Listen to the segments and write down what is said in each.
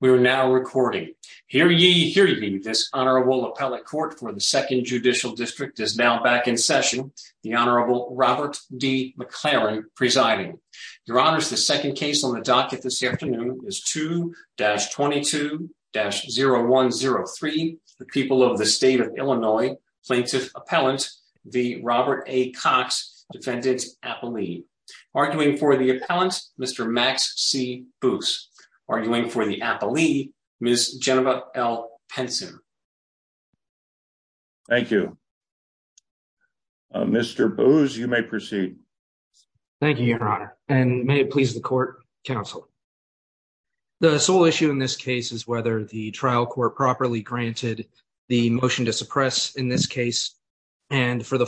We are now recording. Hear ye, hear ye. This Honorable Appellate Court for the Second Judicial District is now back in session, the Honorable Robert D. McLaren presiding. Your Honors, the second case on the docket this afternoon is 2-22-0103, the People of the State of Illinois Plaintiff Appellant v. Robert A. Cox, Defendant Appellee. Arguing for the appellant, Mr. Max C. Boos. Arguing for the appellee, Ms. Geneva L. Penson. Thank you. Mr. Boos, you may proceed. Thank you, Your Honor, and may it please the court, counsel. The sole issue in this case is whether the trial court properly granted the motion to suppress in this case, and for the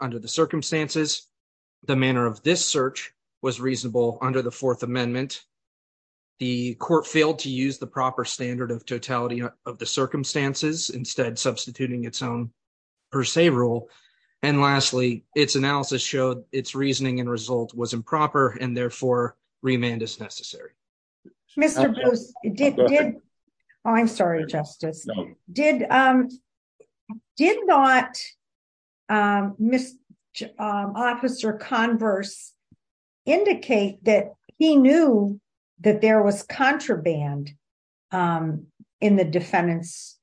under the circumstances, the manner of this search was reasonable under the Fourth Amendment. The court failed to use the proper standard of totality of the circumstances, instead substituting its own per se rule. And lastly, its analysis showed its reasoning and result was improper, and therefore, remand is necessary. Mr. Boos, did, oh, I'm sorry, Justice, did not Ms. Officer Converse indicate that he knew that there was contraband in the defendant's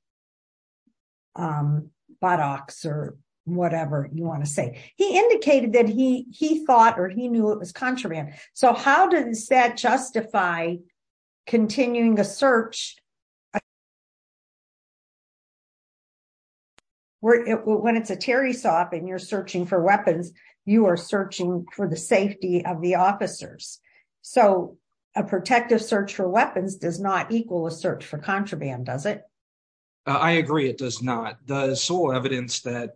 buttocks or whatever you want to say. He indicated that he thought or he knew it was contraband. So how does that justify continuing the search? When it's a Terry soft and you're searching for weapons, you are searching for the safety of the officers. So a protective search for weapons does not equal a search for contraband, does it? I agree, it does not. The sole evidence that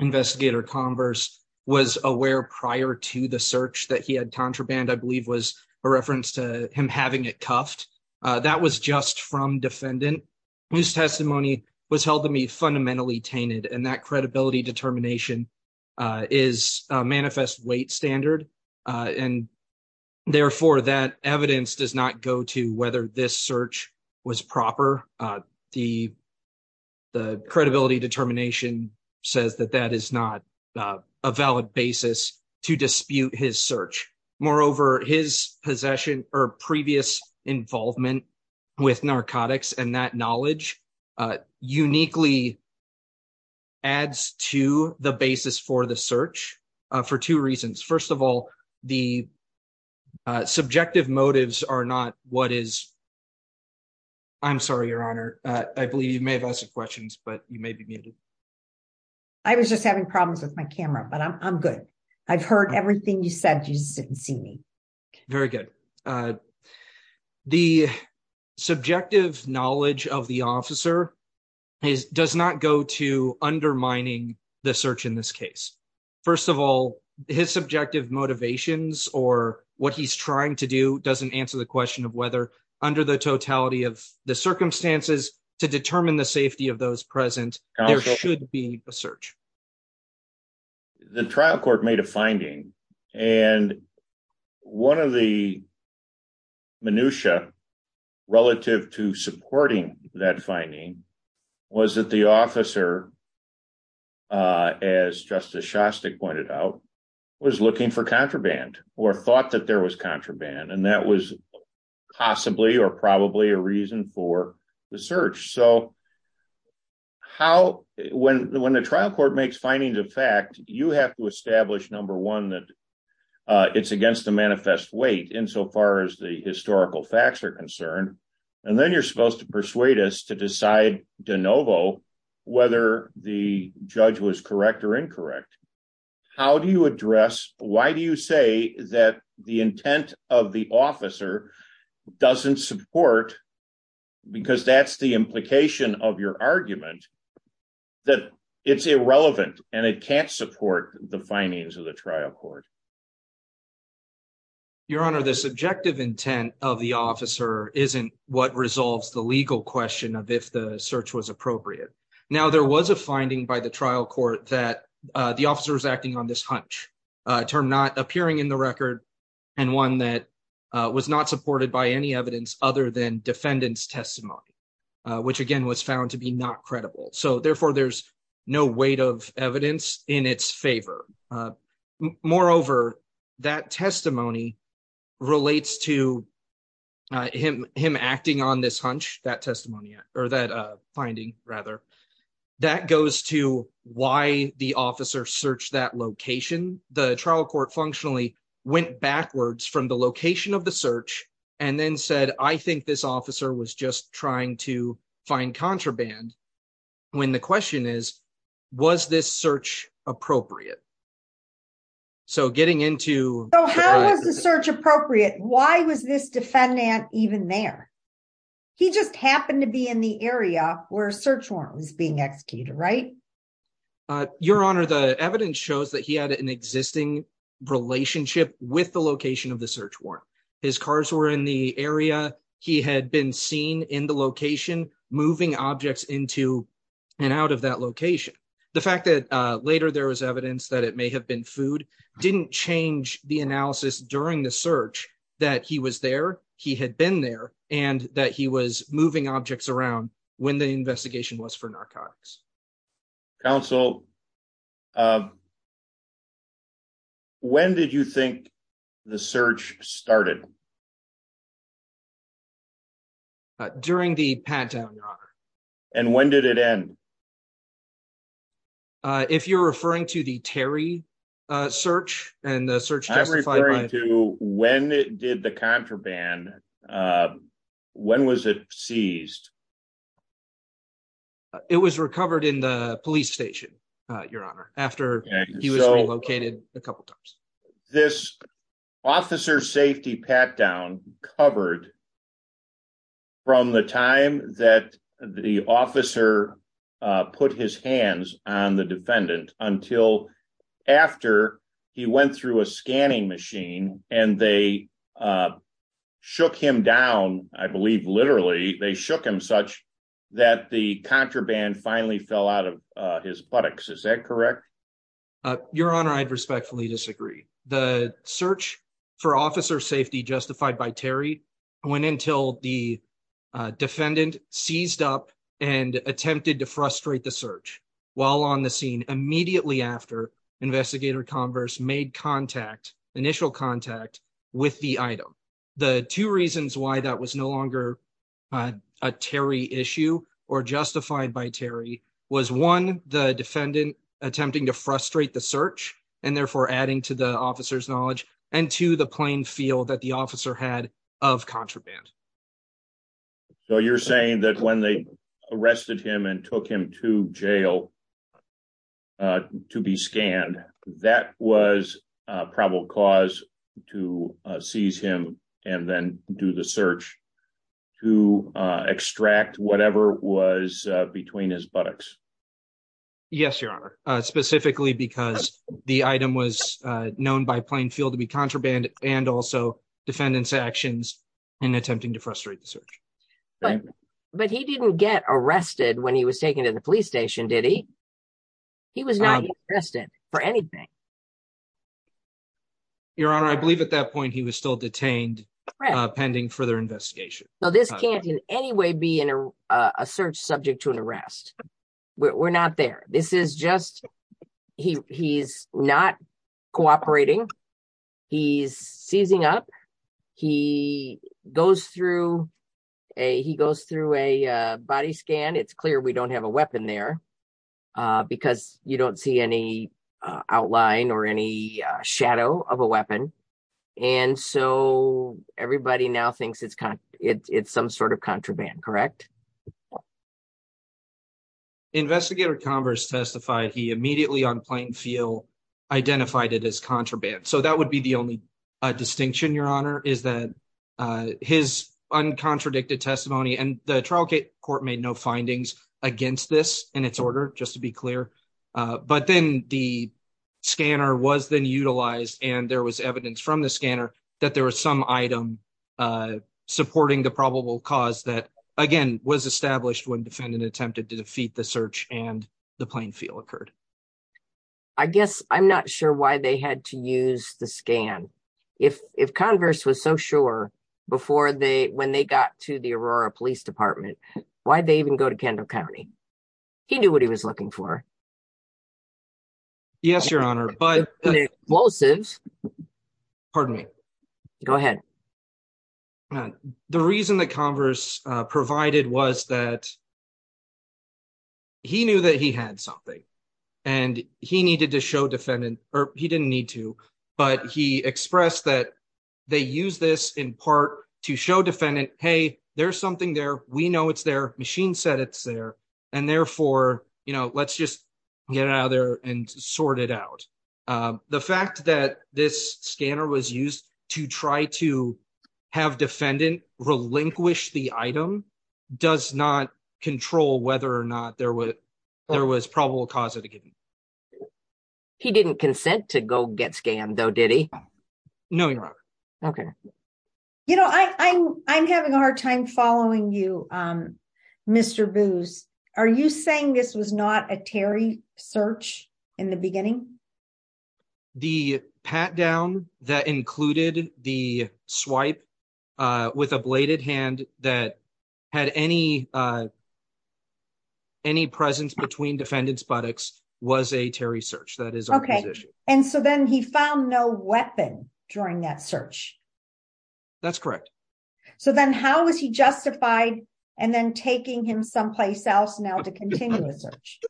investigator Converse was aware prior to the contraband, I believe, was a reference to him having it cuffed. That was just from defendant whose testimony was held to be fundamentally tainted, and that credibility determination is a manifest weight standard. And therefore, that evidence does not go to whether this search was proper. The credibility determination says that that is not a valid basis to dispute his search. Moreover, his possession or previous involvement with narcotics and that knowledge uniquely adds to the basis for the search for two reasons. First of all, the subjective motives are not what is, I'm sorry, Your Honor, I believe you may have asked some questions, but you may be muted. I was just having problems with my camera, but I'm good. I've heard everything you said. You didn't see me. Very good. The subjective knowledge of the officer does not go to undermining the search in this case. First of all, his subjective motivations or what he's trying to do doesn't answer the question of whether under the totality of the circumstances to determine the safety of those present, there should be a search. The trial court made a finding, and one of the minutia relative to supporting that finding was that the officer, as Justice Shostak pointed out, was looking for contraband or thought that there was contraband, and that was possibly or probably a reason for the search. So, how, when the trial court makes findings of fact, you have to establish, number one, that it's against the manifest weight insofar as the historical facts are concerned, and then you're supposed to persuade us to decide de novo whether the judge was correct or incorrect. How do you address, why do you say that the intent of the officer doesn't support, because that's the implication of your argument, that it's irrelevant and it can't support the findings of the trial court? Your Honor, the subjective intent of the officer isn't what resolves the legal question of if the search was appropriate. Now, there was a finding by the trial court that the officer was acting on this hunch, a term not appearing in the record and one that was not supported by any evidence other than defendant's testimony, which, again, was found to be not credible. So, therefore, there's no weight of evidence in its favor. Moreover, that testimony relates to him acting on this hunch, that testimony, or that finding, rather. That goes to why the officer searched that location. The trial court functionally went backwards from the location of the search and then said, I think this officer was just trying to find contraband, when the question is, was this search appropriate? So, getting into... So, how was the search appropriate? Why was this defendant even there? He just happened to be in the area where a search warrant was being executed, right? Your Honor, the evidence shows that he had an existing relationship with the location of the area. He had been seen in the location moving objects into and out of that location. The fact that later there was evidence that it may have been food didn't change the analysis during the search that he was there, he had been there, and that he was moving objects around when the search was done. During the pat-down, Your Honor. And when did it end? If you're referring to the Terry search and the search... I'm referring to when it did the contraband, when was it seized? It was recovered in the police station, Your Honor, after he was relocated a couple of times. This officer safety pat-down covered from the time that the officer put his hands on the defendant until after he went through a scanning machine and they shook him down, I believe literally, they shook him such that the contraband finally fell out of his buttocks. Is that correct? Your Honor, I'd respectfully disagree. The search for officer safety justified by Terry went until the defendant seized up and attempted to frustrate the search while on the scene immediately after Investigator Converse made initial contact with the item. The two reasons why that was no longer a Terry issue or justified by Terry was, one, the defendant attempting to frustrate the search and therefore adding to the officer's knowledge, and two, the plain feel that the officer had of contraband. So you're saying that when they arrested him and then do the search to extract whatever was between his buttocks? Yes, Your Honor, specifically because the item was known by plain feel to be contraband and also defendant's actions in attempting to frustrate the search. But he didn't get arrested when he was taken to the police station, did he? He was not arrested for anything. Your Honor, I believe at that point he was still detained pending further investigation. No, this can't in any way be a search subject to an arrest. We're not there. He's not cooperating. He's seizing up. He goes through a body scan. It's clear we don't have a weapon there because you don't see any outline or any shadow of a everybody now thinks it's some sort of contraband, correct? Investigator Converse testified he immediately on plain feel identified it as contraband. So that would be the only distinction, Your Honor, is that his uncontradicted testimony and the trial court made no findings against this in its order, just to be clear. But then the scanner was then that there was some item supporting the probable cause that, again, was established when defendant attempted to defeat the search and the plain feel occurred. I guess I'm not sure why they had to use the scan. If if Converse was so sure before they when they got to the Aurora Police Department, why did they even go to Kendall County? He knew what he was looking for. Yes, Your Honor, but explosives. Pardon me. Go ahead. The reason that Converse provided was that he knew that he had something and he needed to show defendant or he didn't need to, but he expressed that they use this in part to show defendant, hey, there's something there. We know it's their machine said it's there. And therefore, you know, let's just get out of there and sort it out. The fact that this scanner was used to try to have defendant relinquish the item does not control whether or not there was there was probable cause of the. He didn't consent to go get scanned, though, did he? No, Your Honor. OK. You know, I'm having a in the beginning. The pat down that included the swipe with a bladed hand that had any. Any presence between defendants buttocks was a Terry search that is OK. And so then he found no weapon during that search. That's correct. So then how is he justified and then taking him someplace else now to continue the search?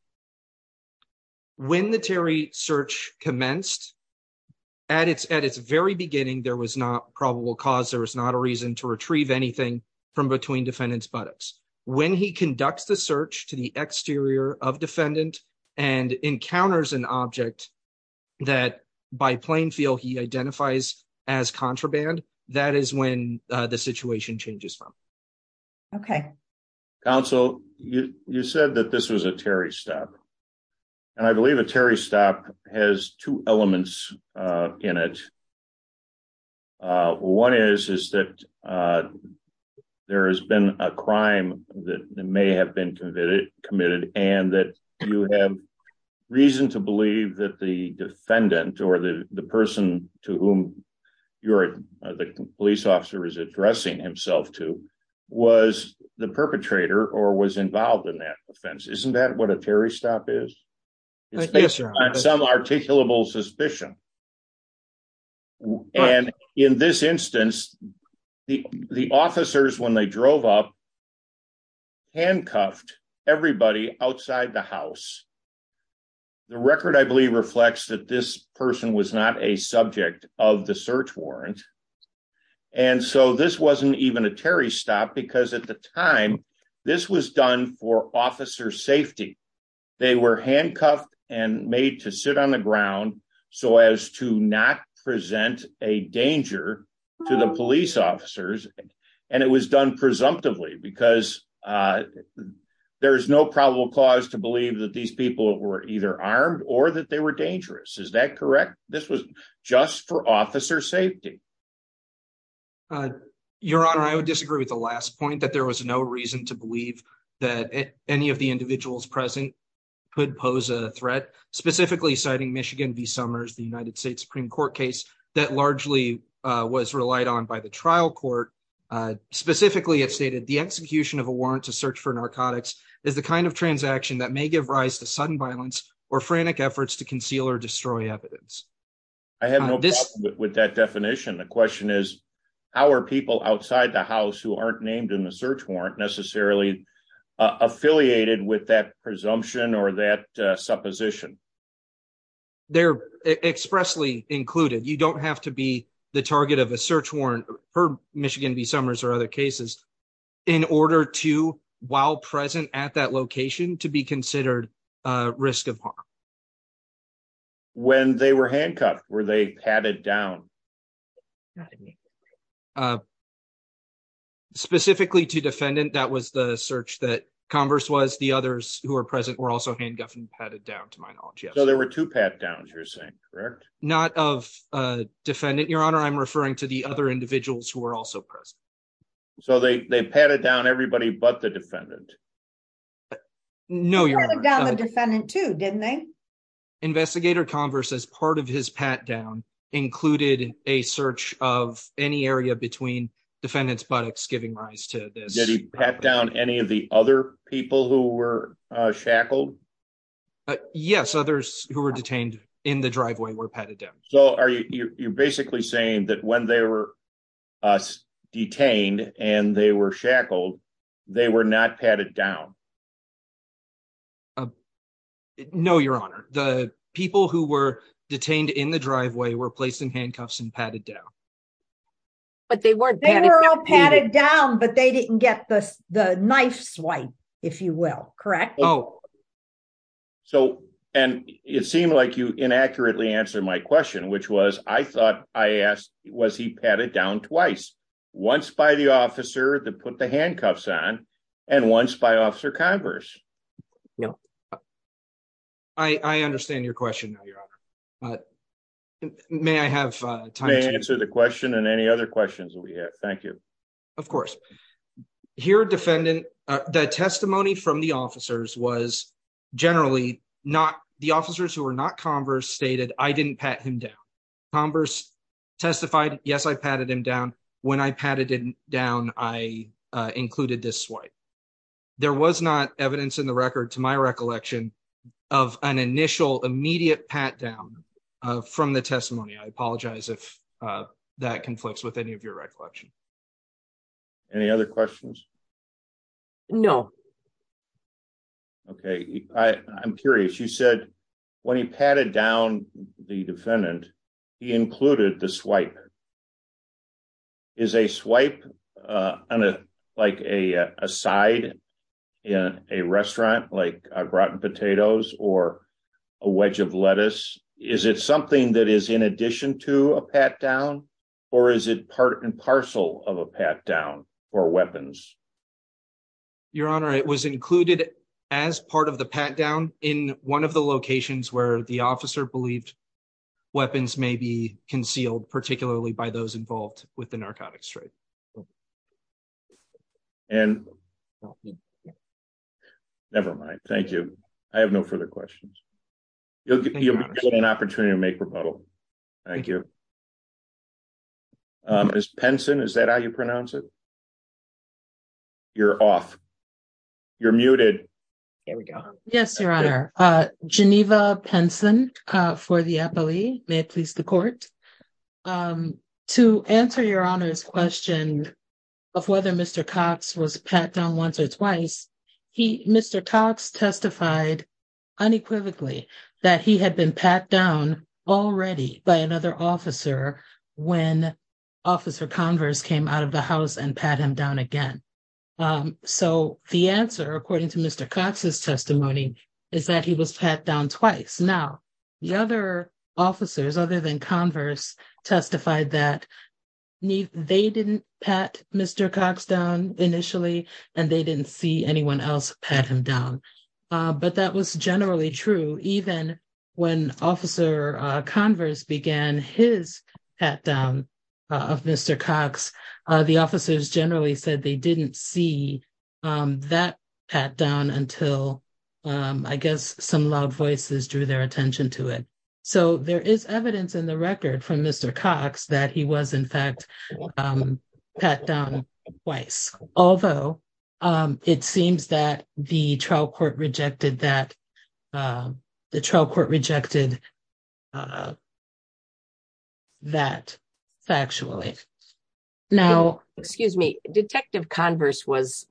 When the Terry search commenced at its at its very beginning, there was not probable cause. There is not a reason to retrieve anything from between defendants buttocks when he conducts the search to the exterior of defendant and encounters an object that by plain feel he identifies as contraband. That is when the situation changes from. OK. Counsel, you said that this was a Terry stop, and I believe a Terry stop has two elements in it. One is is that there has been a crime that may have been committed and that you have reason to believe that the defendant or the person to whom you're the police officer is addressing himself to was the perpetrator or was involved in that offense. Isn't that what a Terry stop is? It's based on some articulable suspicion. And in this instance, the officers, when they drove up. Handcuffed everybody outside the house. The record, I believe, reflects that this person was not a subject of the search warrant. And so this wasn't even a Terry stop because at the time this was done for officer safety. They were handcuffed and made to sit on the ground so as to not present a danger to the police officers. And it was done presumptively because there is no probable cause to believe that these people were either armed or that they were dangerous. Is that correct? This was just for officer safety. Your Honor, I would disagree with the last point that there was no reason to believe that any of the individuals present could pose a threat, specifically citing Michigan v. Summers, the United States Supreme Court case that largely was relied on by the trial court. Specifically, it stated the execution of a warrant to search for narcotics is the kind of transaction that may give rise to sudden violence or frantic efforts to conceal or destroy evidence. I have no problem with that definition. The question is, our people outside the house who aren't named in the search warrant necessarily affiliated with that presumption or supposition. They're expressly included. You don't have to be the target of a search warrant for Michigan v. Summers or other cases in order to, while present at that location, to be considered a risk of harm. When they were handcuffed, were they padded down? Specifically to defendant, that was the search that Converse was. The others who are present were also handcuffed and padded down, to my knowledge. So there were two pat-downs, you're saying, correct? Not of a defendant, Your Honor. I'm referring to the other individuals who were also present. So they padded down everybody but the defendant? No, Your Honor. They padded down the defendant too, didn't they? Investigator Converse, as part of his pat-down, included a search of any area between defendant's buttocks giving rise to this. Did he pat down any of the other people who were shackled? Yes, others who were detained in the driveway were padded down. So you're basically saying that when they were detained and they were shackled, they were not padded down? No, Your Honor. The people who were detained in the driveway were placed in handcuffs and padded down. But they weren't padded down. They were all padded down but they didn't get the knife swipe, if you will, correct? Oh, and it seemed like you inaccurately answered my question, which was, I thought I asked, was he padded down twice? Once by the officer that put the handcuffs on and once by Officer Converse? No. I understand your question now, Your Honor. May I have time to answer the question and any other questions we have? Thank you. Of course. Here, defendant, the testimony from the officers was generally not, the officers who were not Converse stated, I didn't pat him down. Converse testified, yes, I patted him down. When I patted him down, I included this swipe. There was not evidence in the record, to my recollection, of an initial immediate pat down from the testimony. I apologize if that conflicts with any of your recollection. Any other questions? No. Okay, I'm curious. You said when he patted down the defendant, he included the swipe. Is a swipe on a, like a side in a restaurant, like a rotten potatoes or a wedge of lettuce? Is it something that is in addition to a pat down or is it part and parcel of a pat down or weapons? Your Honor, it was included as part of the pat down in one of the locations where the officer believed weapons may be concealed, particularly by those involved with the narcotics trade. And, never mind. Thank you. I have no further questions. You'll get an opportunity to make a rebuttal. Thank you. Ms. Penson, is that how you pronounce it? You're off. You're muted. Here we go. Yes, Your Honor. Geneva Penson for the appellee. May it please the court. To answer Your Honor's question of whether Mr. Cox was pat down once or twice, Mr. Cox testified unequivocally that he had been pat down already by another officer when Officer Converse came out of the house and pat him down again. So, the answer, according to Mr. Cox's testimony, is that he was pat down twice. Now, the other officers, other than Converse, testified that they didn't pat Mr. Cox down initially, and they didn't see anyone else pat him down. But that was generally true. Even when Officer Converse began his pat down of Mr. Cox, the officers generally said they didn't see that pat down until, I guess, some loud voices drew their attention to it. So, there is evidence in the record from Mr. Cox that he was, in fact, pat down twice. Although, it seems that the trial court rejected that factually. Now, excuse me, Detective Converse was,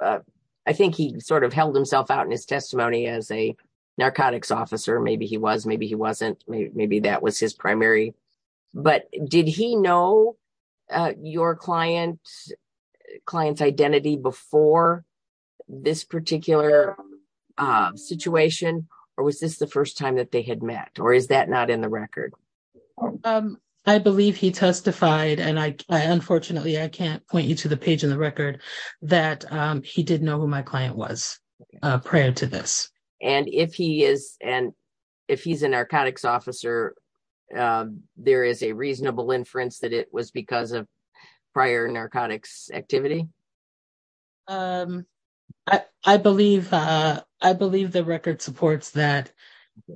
I think he sort of held himself out in his testimony as a narcotics officer. Maybe he was, maybe he wasn't. Maybe that was his primary. But did he know your client's identity before this particular situation, or was this the first time that they had met, or is that not in the record? I believe he testified, and I, unfortunately, I can't point you to the page in the record, that he did know who my client was prior to this. And if he is, and if he's a narcotics officer, there is a reasonable inference that it was because of prior narcotics activity? I believe, I believe the record supports that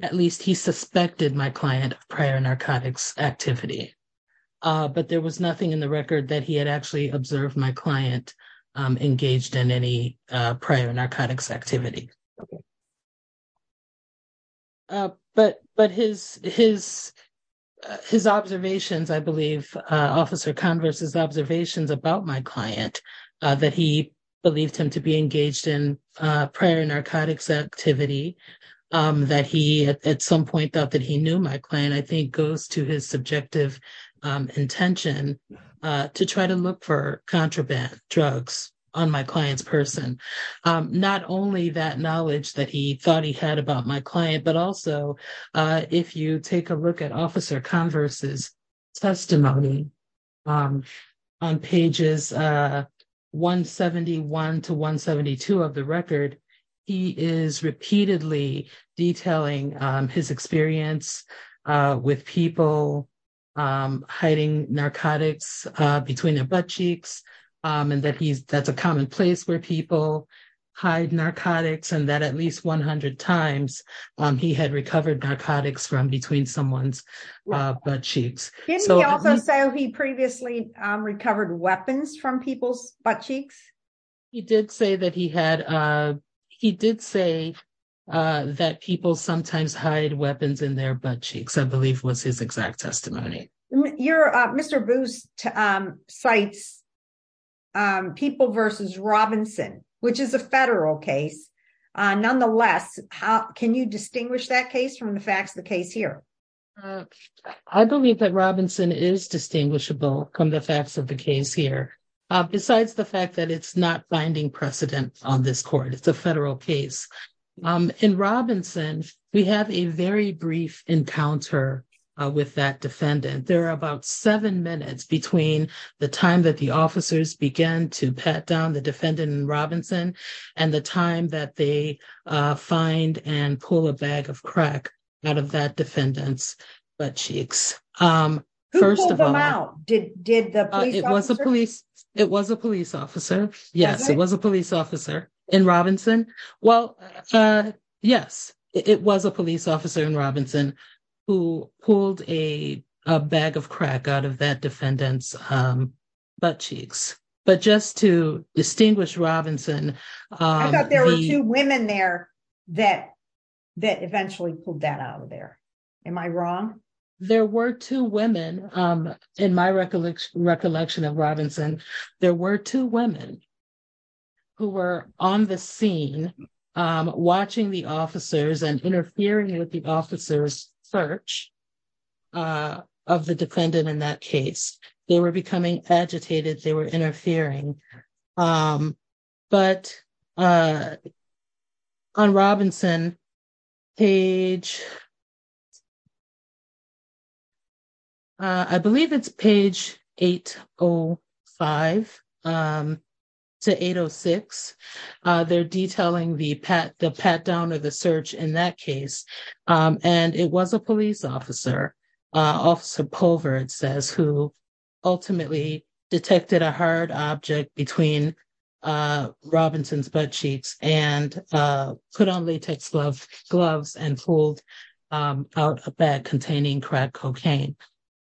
at least he suspected my client of prior narcotics activity. But there was nothing in the record that he had observed my client engaged in any prior narcotics activity. But his observations, I believe, Officer Converse's observations about my client, that he believed him to be engaged in prior narcotics activity, that he at some point thought that he knew my client, I think goes to his subjective intention to try to look for contraband drugs on my client's person. Not only that knowledge that he thought he had about my client, but also if you take a look at Officer Converse's testimony on pages 171 to 172 of the record, he did say that he had some experience with people hiding narcotics between their butt cheeks, and that he's, that's a common place where people hide narcotics, and that at least 100 times he had recovered narcotics from between someone's butt cheeks. Didn't he also say he previously recovered weapons from people's butt cheeks? He did say that he had, he did say that people sometimes hide weapons in their butt cheeks, I believe was his exact testimony. Your, Mr. Booth cites people versus Robinson, which is a federal case. Nonetheless, how can you distinguish that of the case here? Besides the fact that it's not binding precedent on this court, it's a federal case. In Robinson, we have a very brief encounter with that defendant. There are about seven minutes between the time that the officers began to pat down the defendant in Robinson, and the time that they find and pull a bag of crack out of that defendant's butt cheeks. First of all- Who pulled them out? Did the police officer? It was a police, it was a police officer. Yes, it was a police officer in Robinson. Well, yes, it was a police officer in Robinson who pulled a bag of crack out of that defendant's butt cheeks. But just to distinguish Robinson- I thought there were two women there that eventually pulled that out of there. Am I wrong? There were two women, in my recollection of Robinson, there were two women who were on the scene watching the officers and interfering with the officer's search of the defendant in that case. They were becoming agitated, they were interfering. But on Robinson page, I believe it's page 805 to 806, they're detailing the pat down of the search in that case. And it was a police officer, Officer Pulver, it says, who ultimately detected a hard object between Robinson's butt cheeks and put on latex gloves and pulled out a bag containing crack cocaine.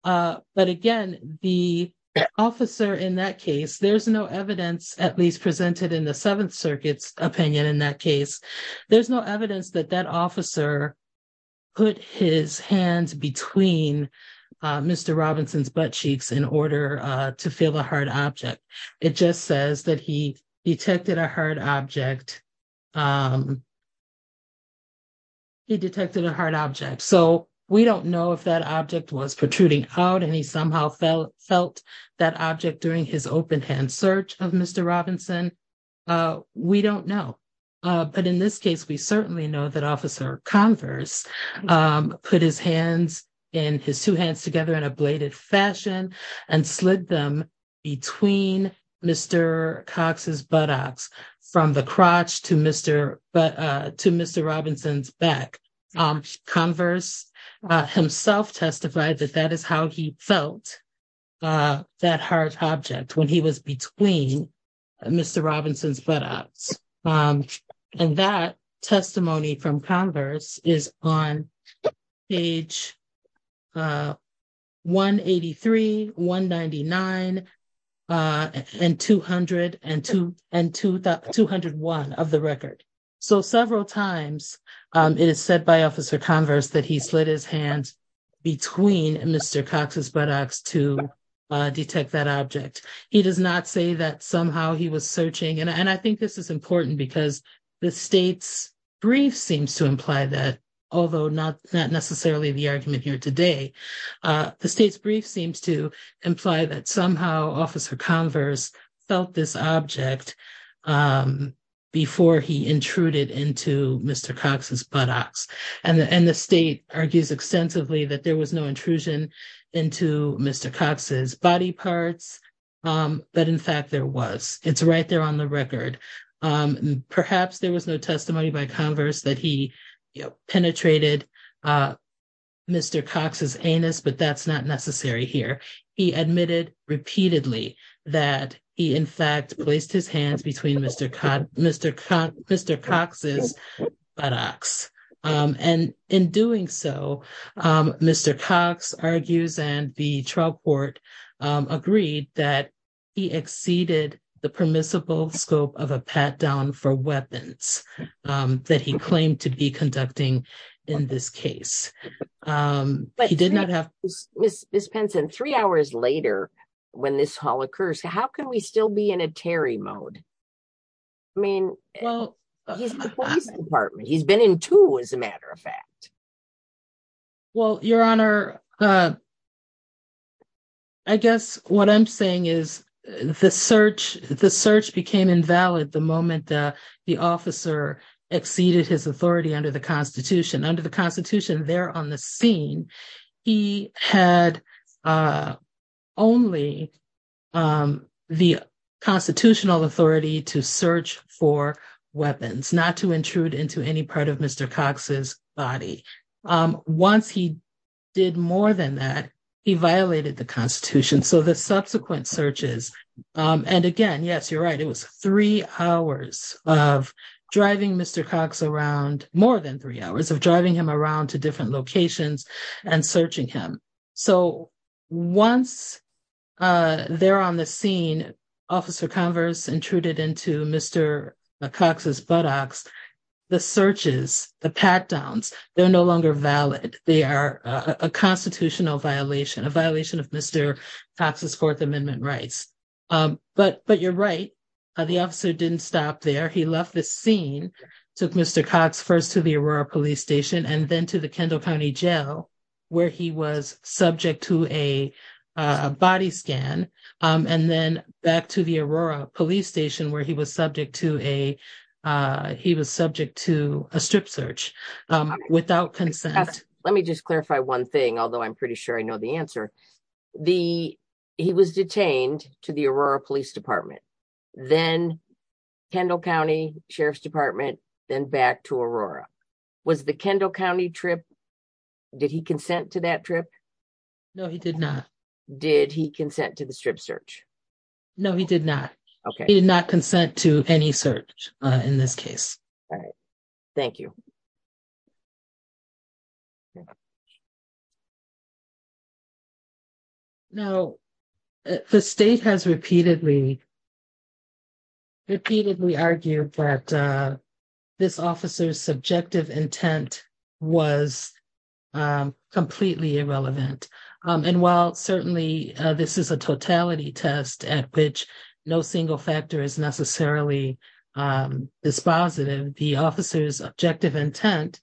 But again, the officer in that case, there's no evidence, at least presented in the Seventh Amendment, that the officer put his hands between Mr. Robinson's butt cheeks in order to feel a hard object. It just says that he detected a hard object. He detected a hard object. So we don't know if that object was protruding out and he somehow felt that object during his open hand search of Mr. Robinson. We don't know. But in this case, we certainly know that Officer Converse put his hands, his two hands together in a bladed fashion and slid them between Mr. Cox's buttocks from the crotch to Mr. Robinson's back. Converse himself testified that that is how he felt that hard object when he was between Mr. Robinson's buttocks. And that testimony from Converse is on page 183, 199, and 201 of the record. So several times it is said by Officer Converse that he slid his hands between Mr. Robinson's buttocks and Mr. Robinson's buttocks. And that is how he was searching. And I think this is important because the state's brief seems to imply that, although not necessarily the argument here today, the state's brief seems to imply that somehow Officer Converse felt this object before he intruded into Mr. Cox's buttocks. And the state argues extensively that there was no intrusion into Mr. Cox's body parts. But in fact, there was. It's right there on the record. Perhaps there was no testimony by Converse that he penetrated Mr. Cox's anus, but that's not necessary here. He admitted repeatedly that he in fact placed his hands between Mr. Cox's buttocks. And in doing so, Mr. Cox argues and the trial court agreed that he exceeded the permissible scope of a pat down for weapons that he claimed to be conducting in this case. But he did not have... Ms. Penson, three hours later when this all occurs, how can we still be in a Terry mode? I mean, he's been in two as a matter of fact. Well, Your Honor, I guess what I'm saying is the search became invalid the moment the officer exceeded his authority under the Constitution. Under the Constitution there on the scene, he had only the constitutional authority to search for weapons, not to intrude into any part of Mr. Cox's body. Once he did more than that, he violated the Constitution. So the subsequent searches, and again, yes, you're right, it was three hours of driving Mr. Cox around, more than three hours of driving him around to different locations and searching him. So once they're on the scene, Officer Converse intruded into Mr. Cox's buttocks, the searches, the pat downs, they're no longer valid. They are a constitutional violation, a violation of Mr. Cox's Fourth Amendment rights. But you're right, the officer didn't stop there. He left the scene, took Mr. Cox first to the Aurora Police Station, and then to the Kendall County Jail, where he was subject to a body scan. And then back to the Aurora Police Station, where he was subject to a strip search without consent. Let me just clarify one thing, although I'm pretty sure I know the answer. He was detained to the Aurora Police Department. Then Kendall County Sheriff's Department, then back to Aurora. Was the Kendall County trip, did he consent to that trip? No, he did not. Did he consent to the strip search? No, he did not. Okay. He did not consent to any search in this case. All right. Thank you. Now, the state has repeatedly, repeatedly argued that this officer's subjective intent was completely irrelevant. And while certainly this is a totality test at which no single factor is necessarily dispositive, the officer's objective intent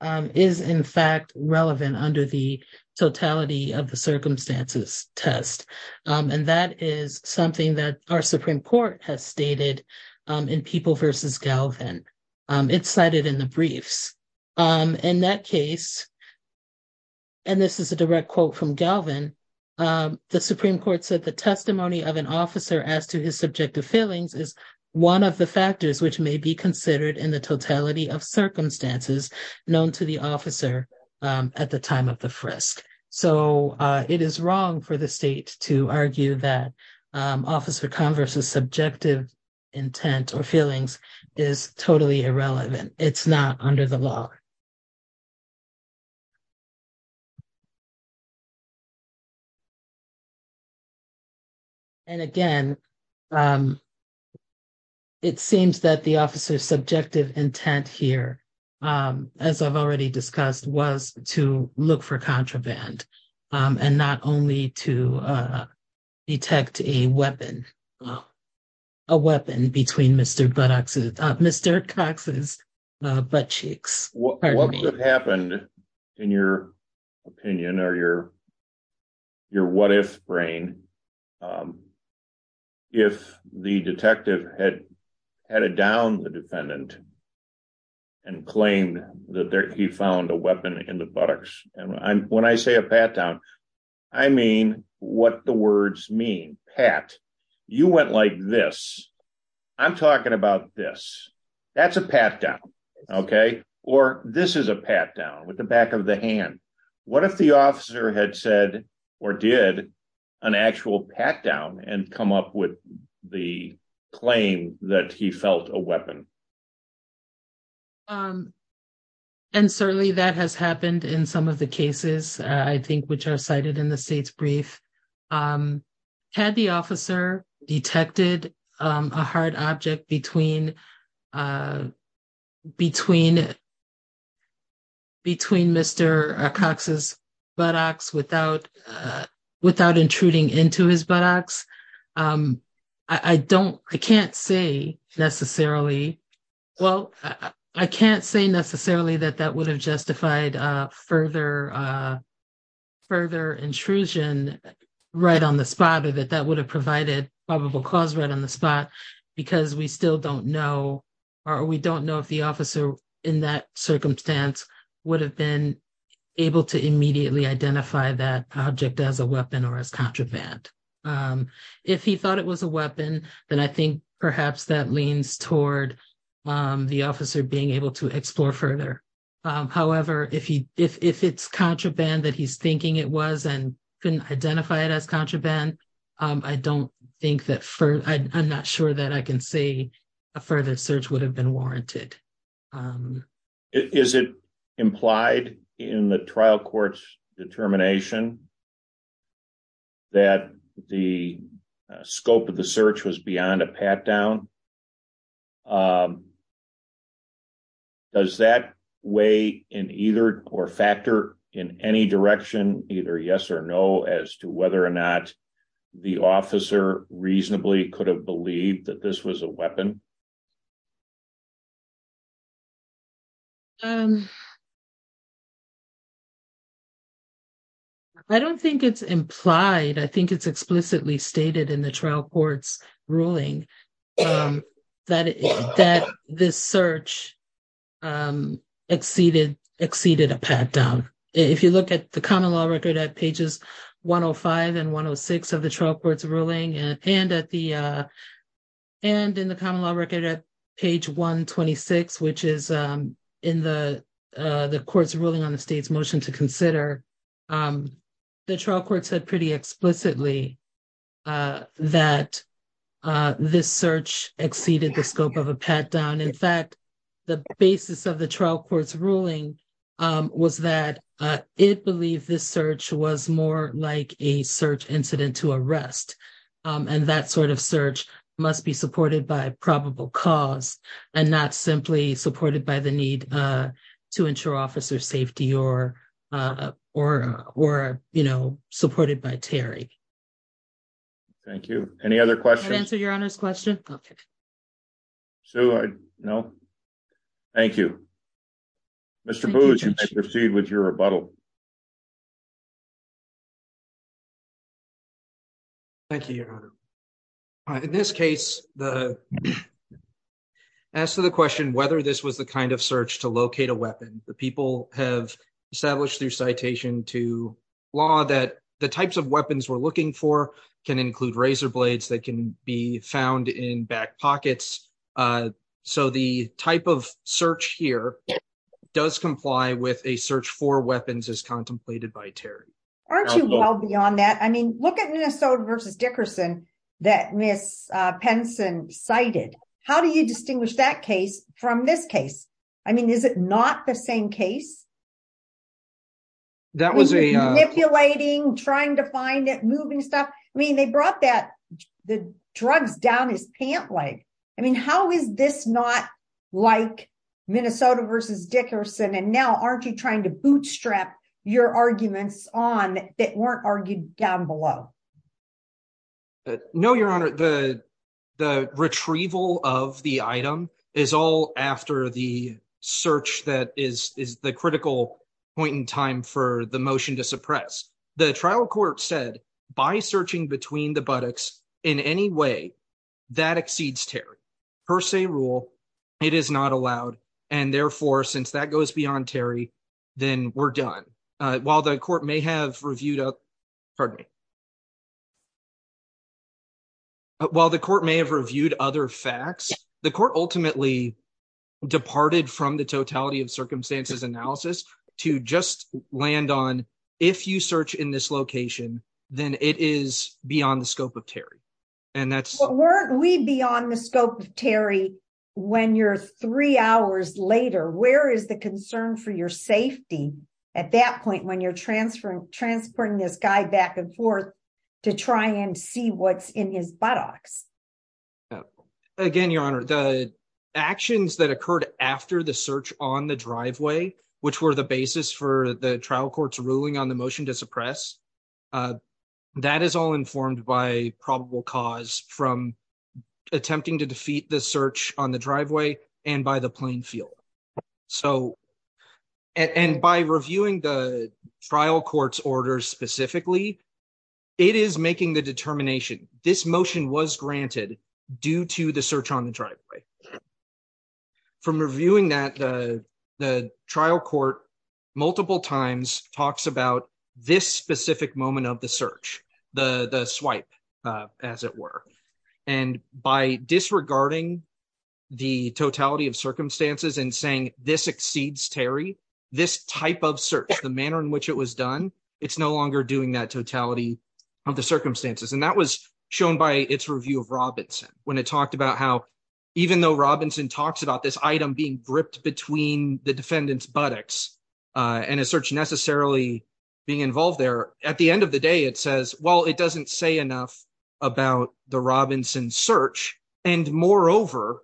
is in fact relevant under the totality of the circumstances test. And that is something that our Supreme Court has stated in People v. Galvin. It's cited in the briefs. In that case, and this is a direct quote from Galvin, the Supreme Court said the testimony of an officer as to his subjective feelings is one of the factors which may be considered in the totality of circumstances known to the officer at the time of the frisk. So, it is wrong for the state to argue that Officer Converse's subjective intent or feelings is totally irrelevant. It's not under the law. And again, it seems that the officer's subjective intent here, as I've already discussed, was to look for contraband and not only to detect a weapon, a weapon between Mr. Cox's butt cheeks. What would have happened, in your opinion or your what-if brain, if the detective had headed down the defendant and claimed that he found a weapon in the buttocks? And when I say a pat down, I mean what the words mean. Pat, you went like this. I'm talking about this. That's a pat down, okay? Or this is a pat down with the back of the hand. What if the officer had said or did an actual pat down and come up with the claim that he felt a weapon? And certainly that has happened in some of the cases, I think, which are cited in the state's officer detected a hard object between Mr. Cox's buttocks without intruding into his buttocks. I don't, I can't say necessarily, well, I can't say necessarily that that would have justified further intrusion right on the spot or that that would have provided probable cause right on the spot because we still don't know or we don't know if the officer in that circumstance would have been able to immediately identify that object as a weapon or as contraband. If he thought it was a weapon, then I think perhaps that leans toward the officer being able to explore further. However, if it's contraband that he's thinking it was and couldn't identify it as contraband, I don't think that, I'm not sure that I can say a further search would have been warranted. Is it implied in the trial court's determination that the scope of the search was beyond a pat down? Does that weigh in either or factor in any direction, either yes or no, as to whether or not the officer reasonably could have believed that this was a weapon? I don't think it's implied. I think it's explicitly stated in the trial court's ruling that this search exceeded a pat down. If you look at the common law record at pages 105 and 106 of the common law record at page 126, which is in the court's ruling on the state's motion to consider, the trial court said pretty explicitly that this search exceeded the scope of a pat down. In fact, the basis of the trial court's ruling was that it believed this search was more like a search incident to arrest. That sort of search must be supported by probable cause and not simply supported by the need to ensure officer safety or supported by Terry. Thank you. Any other questions? Can I answer your Honor's question? Okay. Sue, no? Thank you. Mr. Booz, you may proceed with your rebuttal. Thank you, Your Honor. In this case, as to the question whether this was the kind of search to locate a weapon, the people have established through citation to law that the types of weapons we're looking for can include razor blades that can be found in back pockets. So the type of search here does comply with a search for weapons as contemplated by Terry. Aren't you well beyond that? I mean, look at Minnesota v. Dickerson that Ms. Penson cited. How do you distinguish that case from this case? I mean, is it not the same case? That was a- Manipulating, trying to find it, moving stuff. I mean, they brought that, the drugs down his pant leg. I mean, how is this not like Minnesota v. Dickerson? And now, aren't you trying to bootstrap your arguments on that weren't argued down below? No, Your Honor. The retrieval of the item is all after the search that is the critical point in time for the motion to suppress. The trial court said by searching between the buttocks in any way that exceeds Terry per se rule, it is not allowed. And therefore, since that goes beyond Terry, then we're done. While the court may have reviewed other facts, the court ultimately departed from the totality of circumstances analysis to just land on if you search in this beyond the scope of Terry when you're three hours later, where is the concern for your safety at that point when you're transferring this guy back and forth to try and see what's in his buttocks? Again, Your Honor, the actions that occurred after the search on the driveway, which were the basis for the trial court's ruling on the motion to suppress, that is all informed by probable cause from attempting to defeat the search on the driveway and by the plain field. And by reviewing the trial court's orders specifically, it is making the determination this motion was granted due to the search on the driveway. From reviewing that, the trial court multiple times talks about this specific moment of the search, the swipe, as it were. And by disregarding the totality of circumstances and saying this exceeds Terry, this type of search, the manner in which it was done, it's no longer doing that totality of the circumstances. And that was shown by its review of Robinson when it talked about how even though Robinson talks about this item being gripped between the defendant's buttocks and a search necessarily being involved there, at the end of the day it says, well, it doesn't say enough about the Robinson search. And moreover,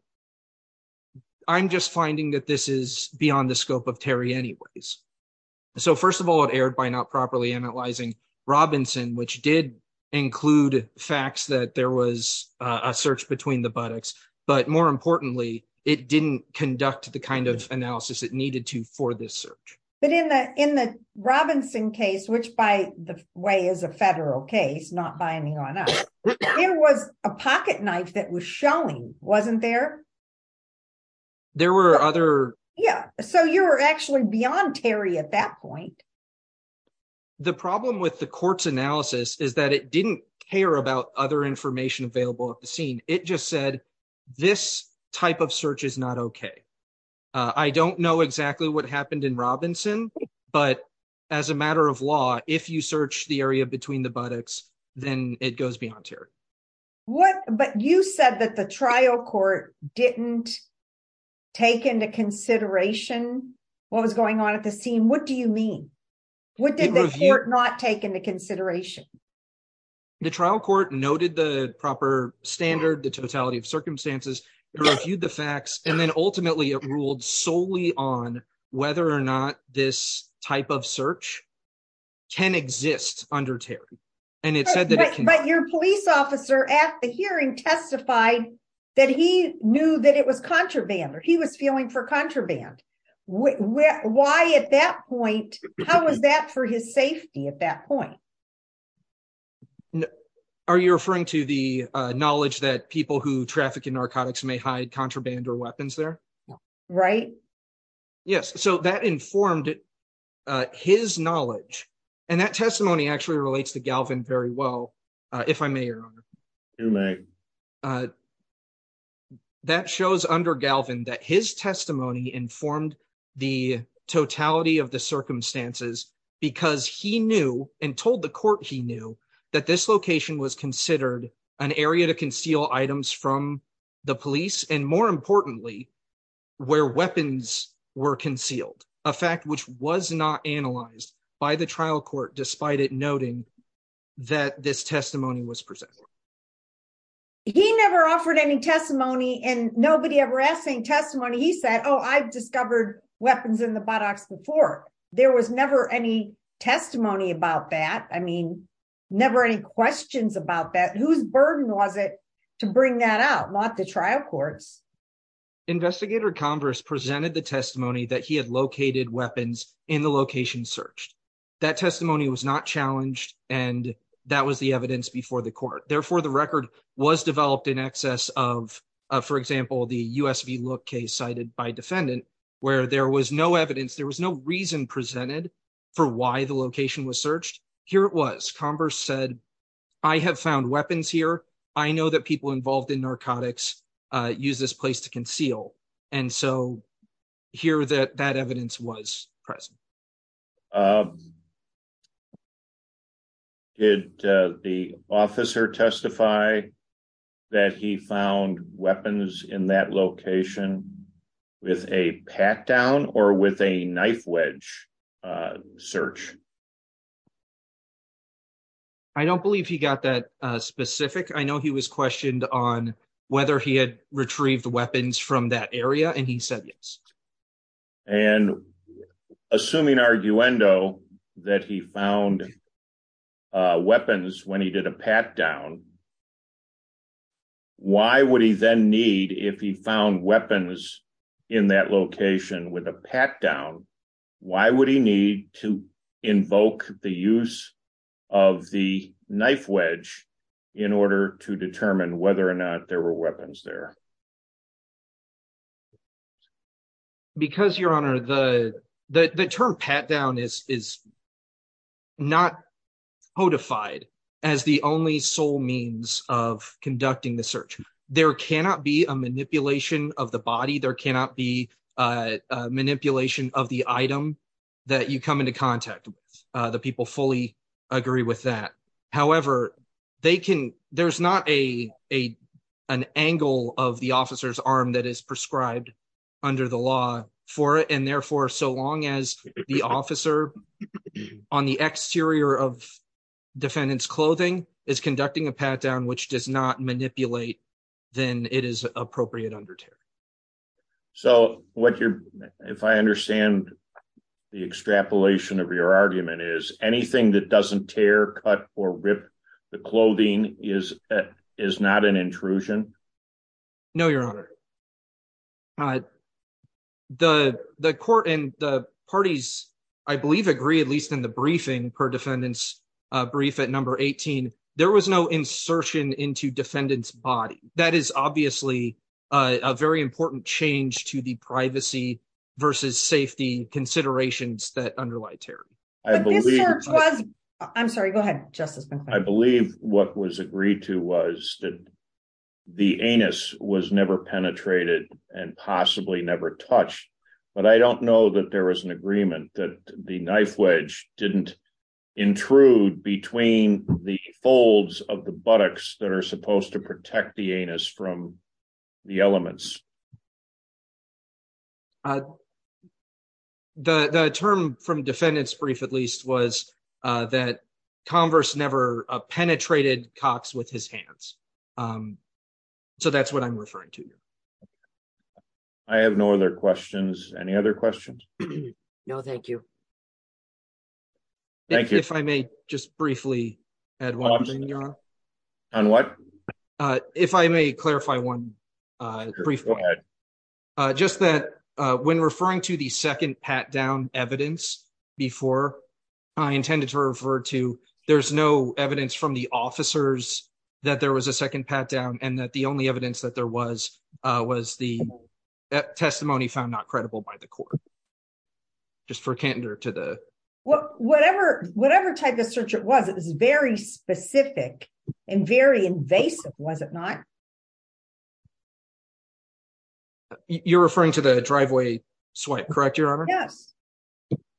I'm just finding that this is beyond the scope of Terry anyways. So first of all, it erred by not properly analyzing Robinson, which did include facts that there was a search between the buttocks. But more importantly, it didn't conduct the kind of analysis it needed to for this search. But in the Robinson case, which by the way is a federal case, not binding on us, there was a pocket knife that was showing, wasn't there? There were other... Yeah. So you were actually beyond Terry at that point. The problem with the court's analysis is that it didn't care about other information available at the scene. It just said, this type of search is not okay. I don't know exactly what happened in Robinson, but as a matter of law, if you search the area between the buttocks, then it goes beyond Terry. But you said that the trial court didn't take into consideration what was going on at the scene. What do you mean? What did the court not take into consideration? The trial court noted the proper standard, the totality of circumstances, it reviewed the facts, and then ultimately it ruled solely on whether or not this type of search can exist under Terry. And it said that it can. But your police officer at the hearing testified that he knew that it was contraband, he was feeling for contraband. Why at that point, how was that for his safety at that point? Are you referring to the knowledge that people who traffic in narcotics may hide contraband or weapons there? Right. Yes. So that informed his knowledge. And that testimony actually relates to Galvin very well, if I may, Your Honor. You may. So that shows under Galvin that his testimony informed the totality of the circumstances because he knew and told the court he knew that this location was considered an area to conceal items from the police, and more importantly, where weapons were concealed, a fact which was not analyzed by the trial court despite it noting that this testimony was presented. He never offered any testimony and nobody ever asked any testimony. He said, oh, I've discovered weapons in the buttocks before. There was never any testimony about that. I mean, never any questions about that. Whose burden was it to bring that out, not the trial courts? Investigator Converse presented the testimony that he had located weapons in the location searched. That testimony was not challenged, and that was the evidence before the court. Therefore, the record was developed in excess of, for example, the USV look case cited by defendant where there was no evidence, there was no reason presented for why the location was searched. Here it was. Converse said, I have found weapons here. I know that people involved in narcotics use this place to conceal. And so here that that evidence was present. Did the officer testify that he found weapons in that location with a pat down or with a knife wedge search? I don't believe he got that specific. I know he was questioned on whether he had retrieved weapons from that area, and he said yes. And assuming arguendo that he found weapons when he did a pat down, why would he then need, if he found weapons in that location with a pat down, why would he need to invoke the use of the knife wedge in order to determine whether or not there were weapons there? Because your honor, the the term pat down is is not codified as the only sole means of conducting the search. There cannot be a manipulation of the body. There cannot be a manipulation of the item that you come into contact with. The people fully agree with that. However, they can, there's not a an angle of the officer's arm that is prescribed under the law for it. And therefore, so long as the officer on the exterior of defendant's clothing is conducting a pat down, which does not manipulate, then it is appropriate under tear. So what you're, if I understand the extrapolation of your argument is anything that doesn't tear, cut, or rip the clothing is, is not an intrusion? No, your honor. The the court and the parties, I believe, agree, at least in the briefing per defendant's brief at number 18, there was no insertion into defendant's body. That is obviously a very important change to the privacy versus safety considerations that underlie Terry. This search was, I'm sorry, go ahead, Justice. I believe what was agreed to was that the anus was never penetrated and possibly never touched. But I don't know that there was an agreement that the knife wedge didn't intrude between the folds of the buttocks that are supposed to protect the anus from the elements. The term from defendant's brief, at least was that converse never penetrated Cox with his hands. So that's what I'm referring to. I have no other questions. Any other questions? No, thank you. Thank you. If I may just briefly add one thing, your honor. On what? If I may clarify one brief point. Go ahead. Just that when referring to the second pat down evidence before, I intended to refer to there's no evidence from the officers that there was a second pat down and that the only evidence that there was was the testimony found not credible by the court. Just for candor to the whatever, whatever type of search it was, it was very specific and very invasive, was it not? You're referring to the driveway swipe, correct, your honor? Yes.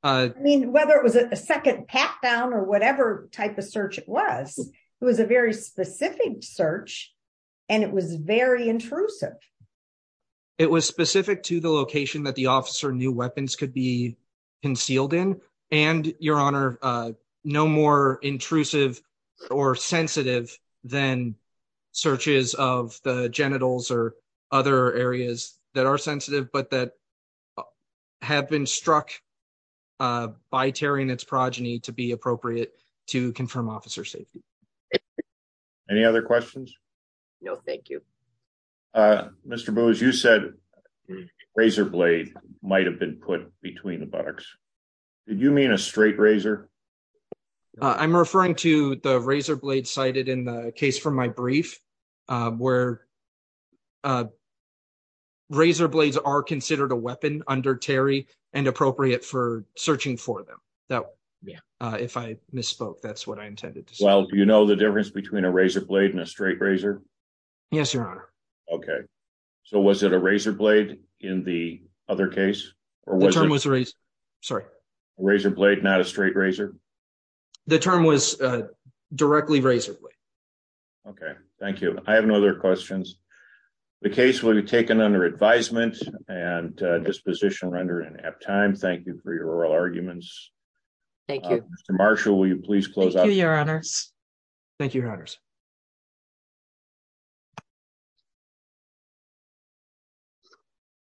I mean, whether it was a second pat down or whatever type of search it was, it was a very specific search. And it was very intrusive. It was specific to the location that the officer knew weapons could be concealed in. And your honor, no more intrusive or sensitive than searches of the genitals or other areas that are sensitive, but that have been struck by tearing its progeny to be appropriate to confirm officer safety. Any other questions? No, thank you. Mr. Booz, you said razor blade might've been put between the box. Did you mean a straight razor? I'm referring to the razor blade cited in the case from my brief where razor blades are considered a weapon under Terry and appropriate for searching for them. That if I misspoke, that's what I intended to say. Well, do you know the difference between a razor blade and a straight razor? Yes, your honor. Okay. So was it a razor blade in the other case? Or was it a razor blade, not a straight razor? The term was directly razor blade. Okay. Thank you. I have no other questions. The case will be taken under advisement and disposition rendered in ab time. Thank you for your oral arguments. Thank you. Mr. Marshall, will you please close out? Thank you, your honors.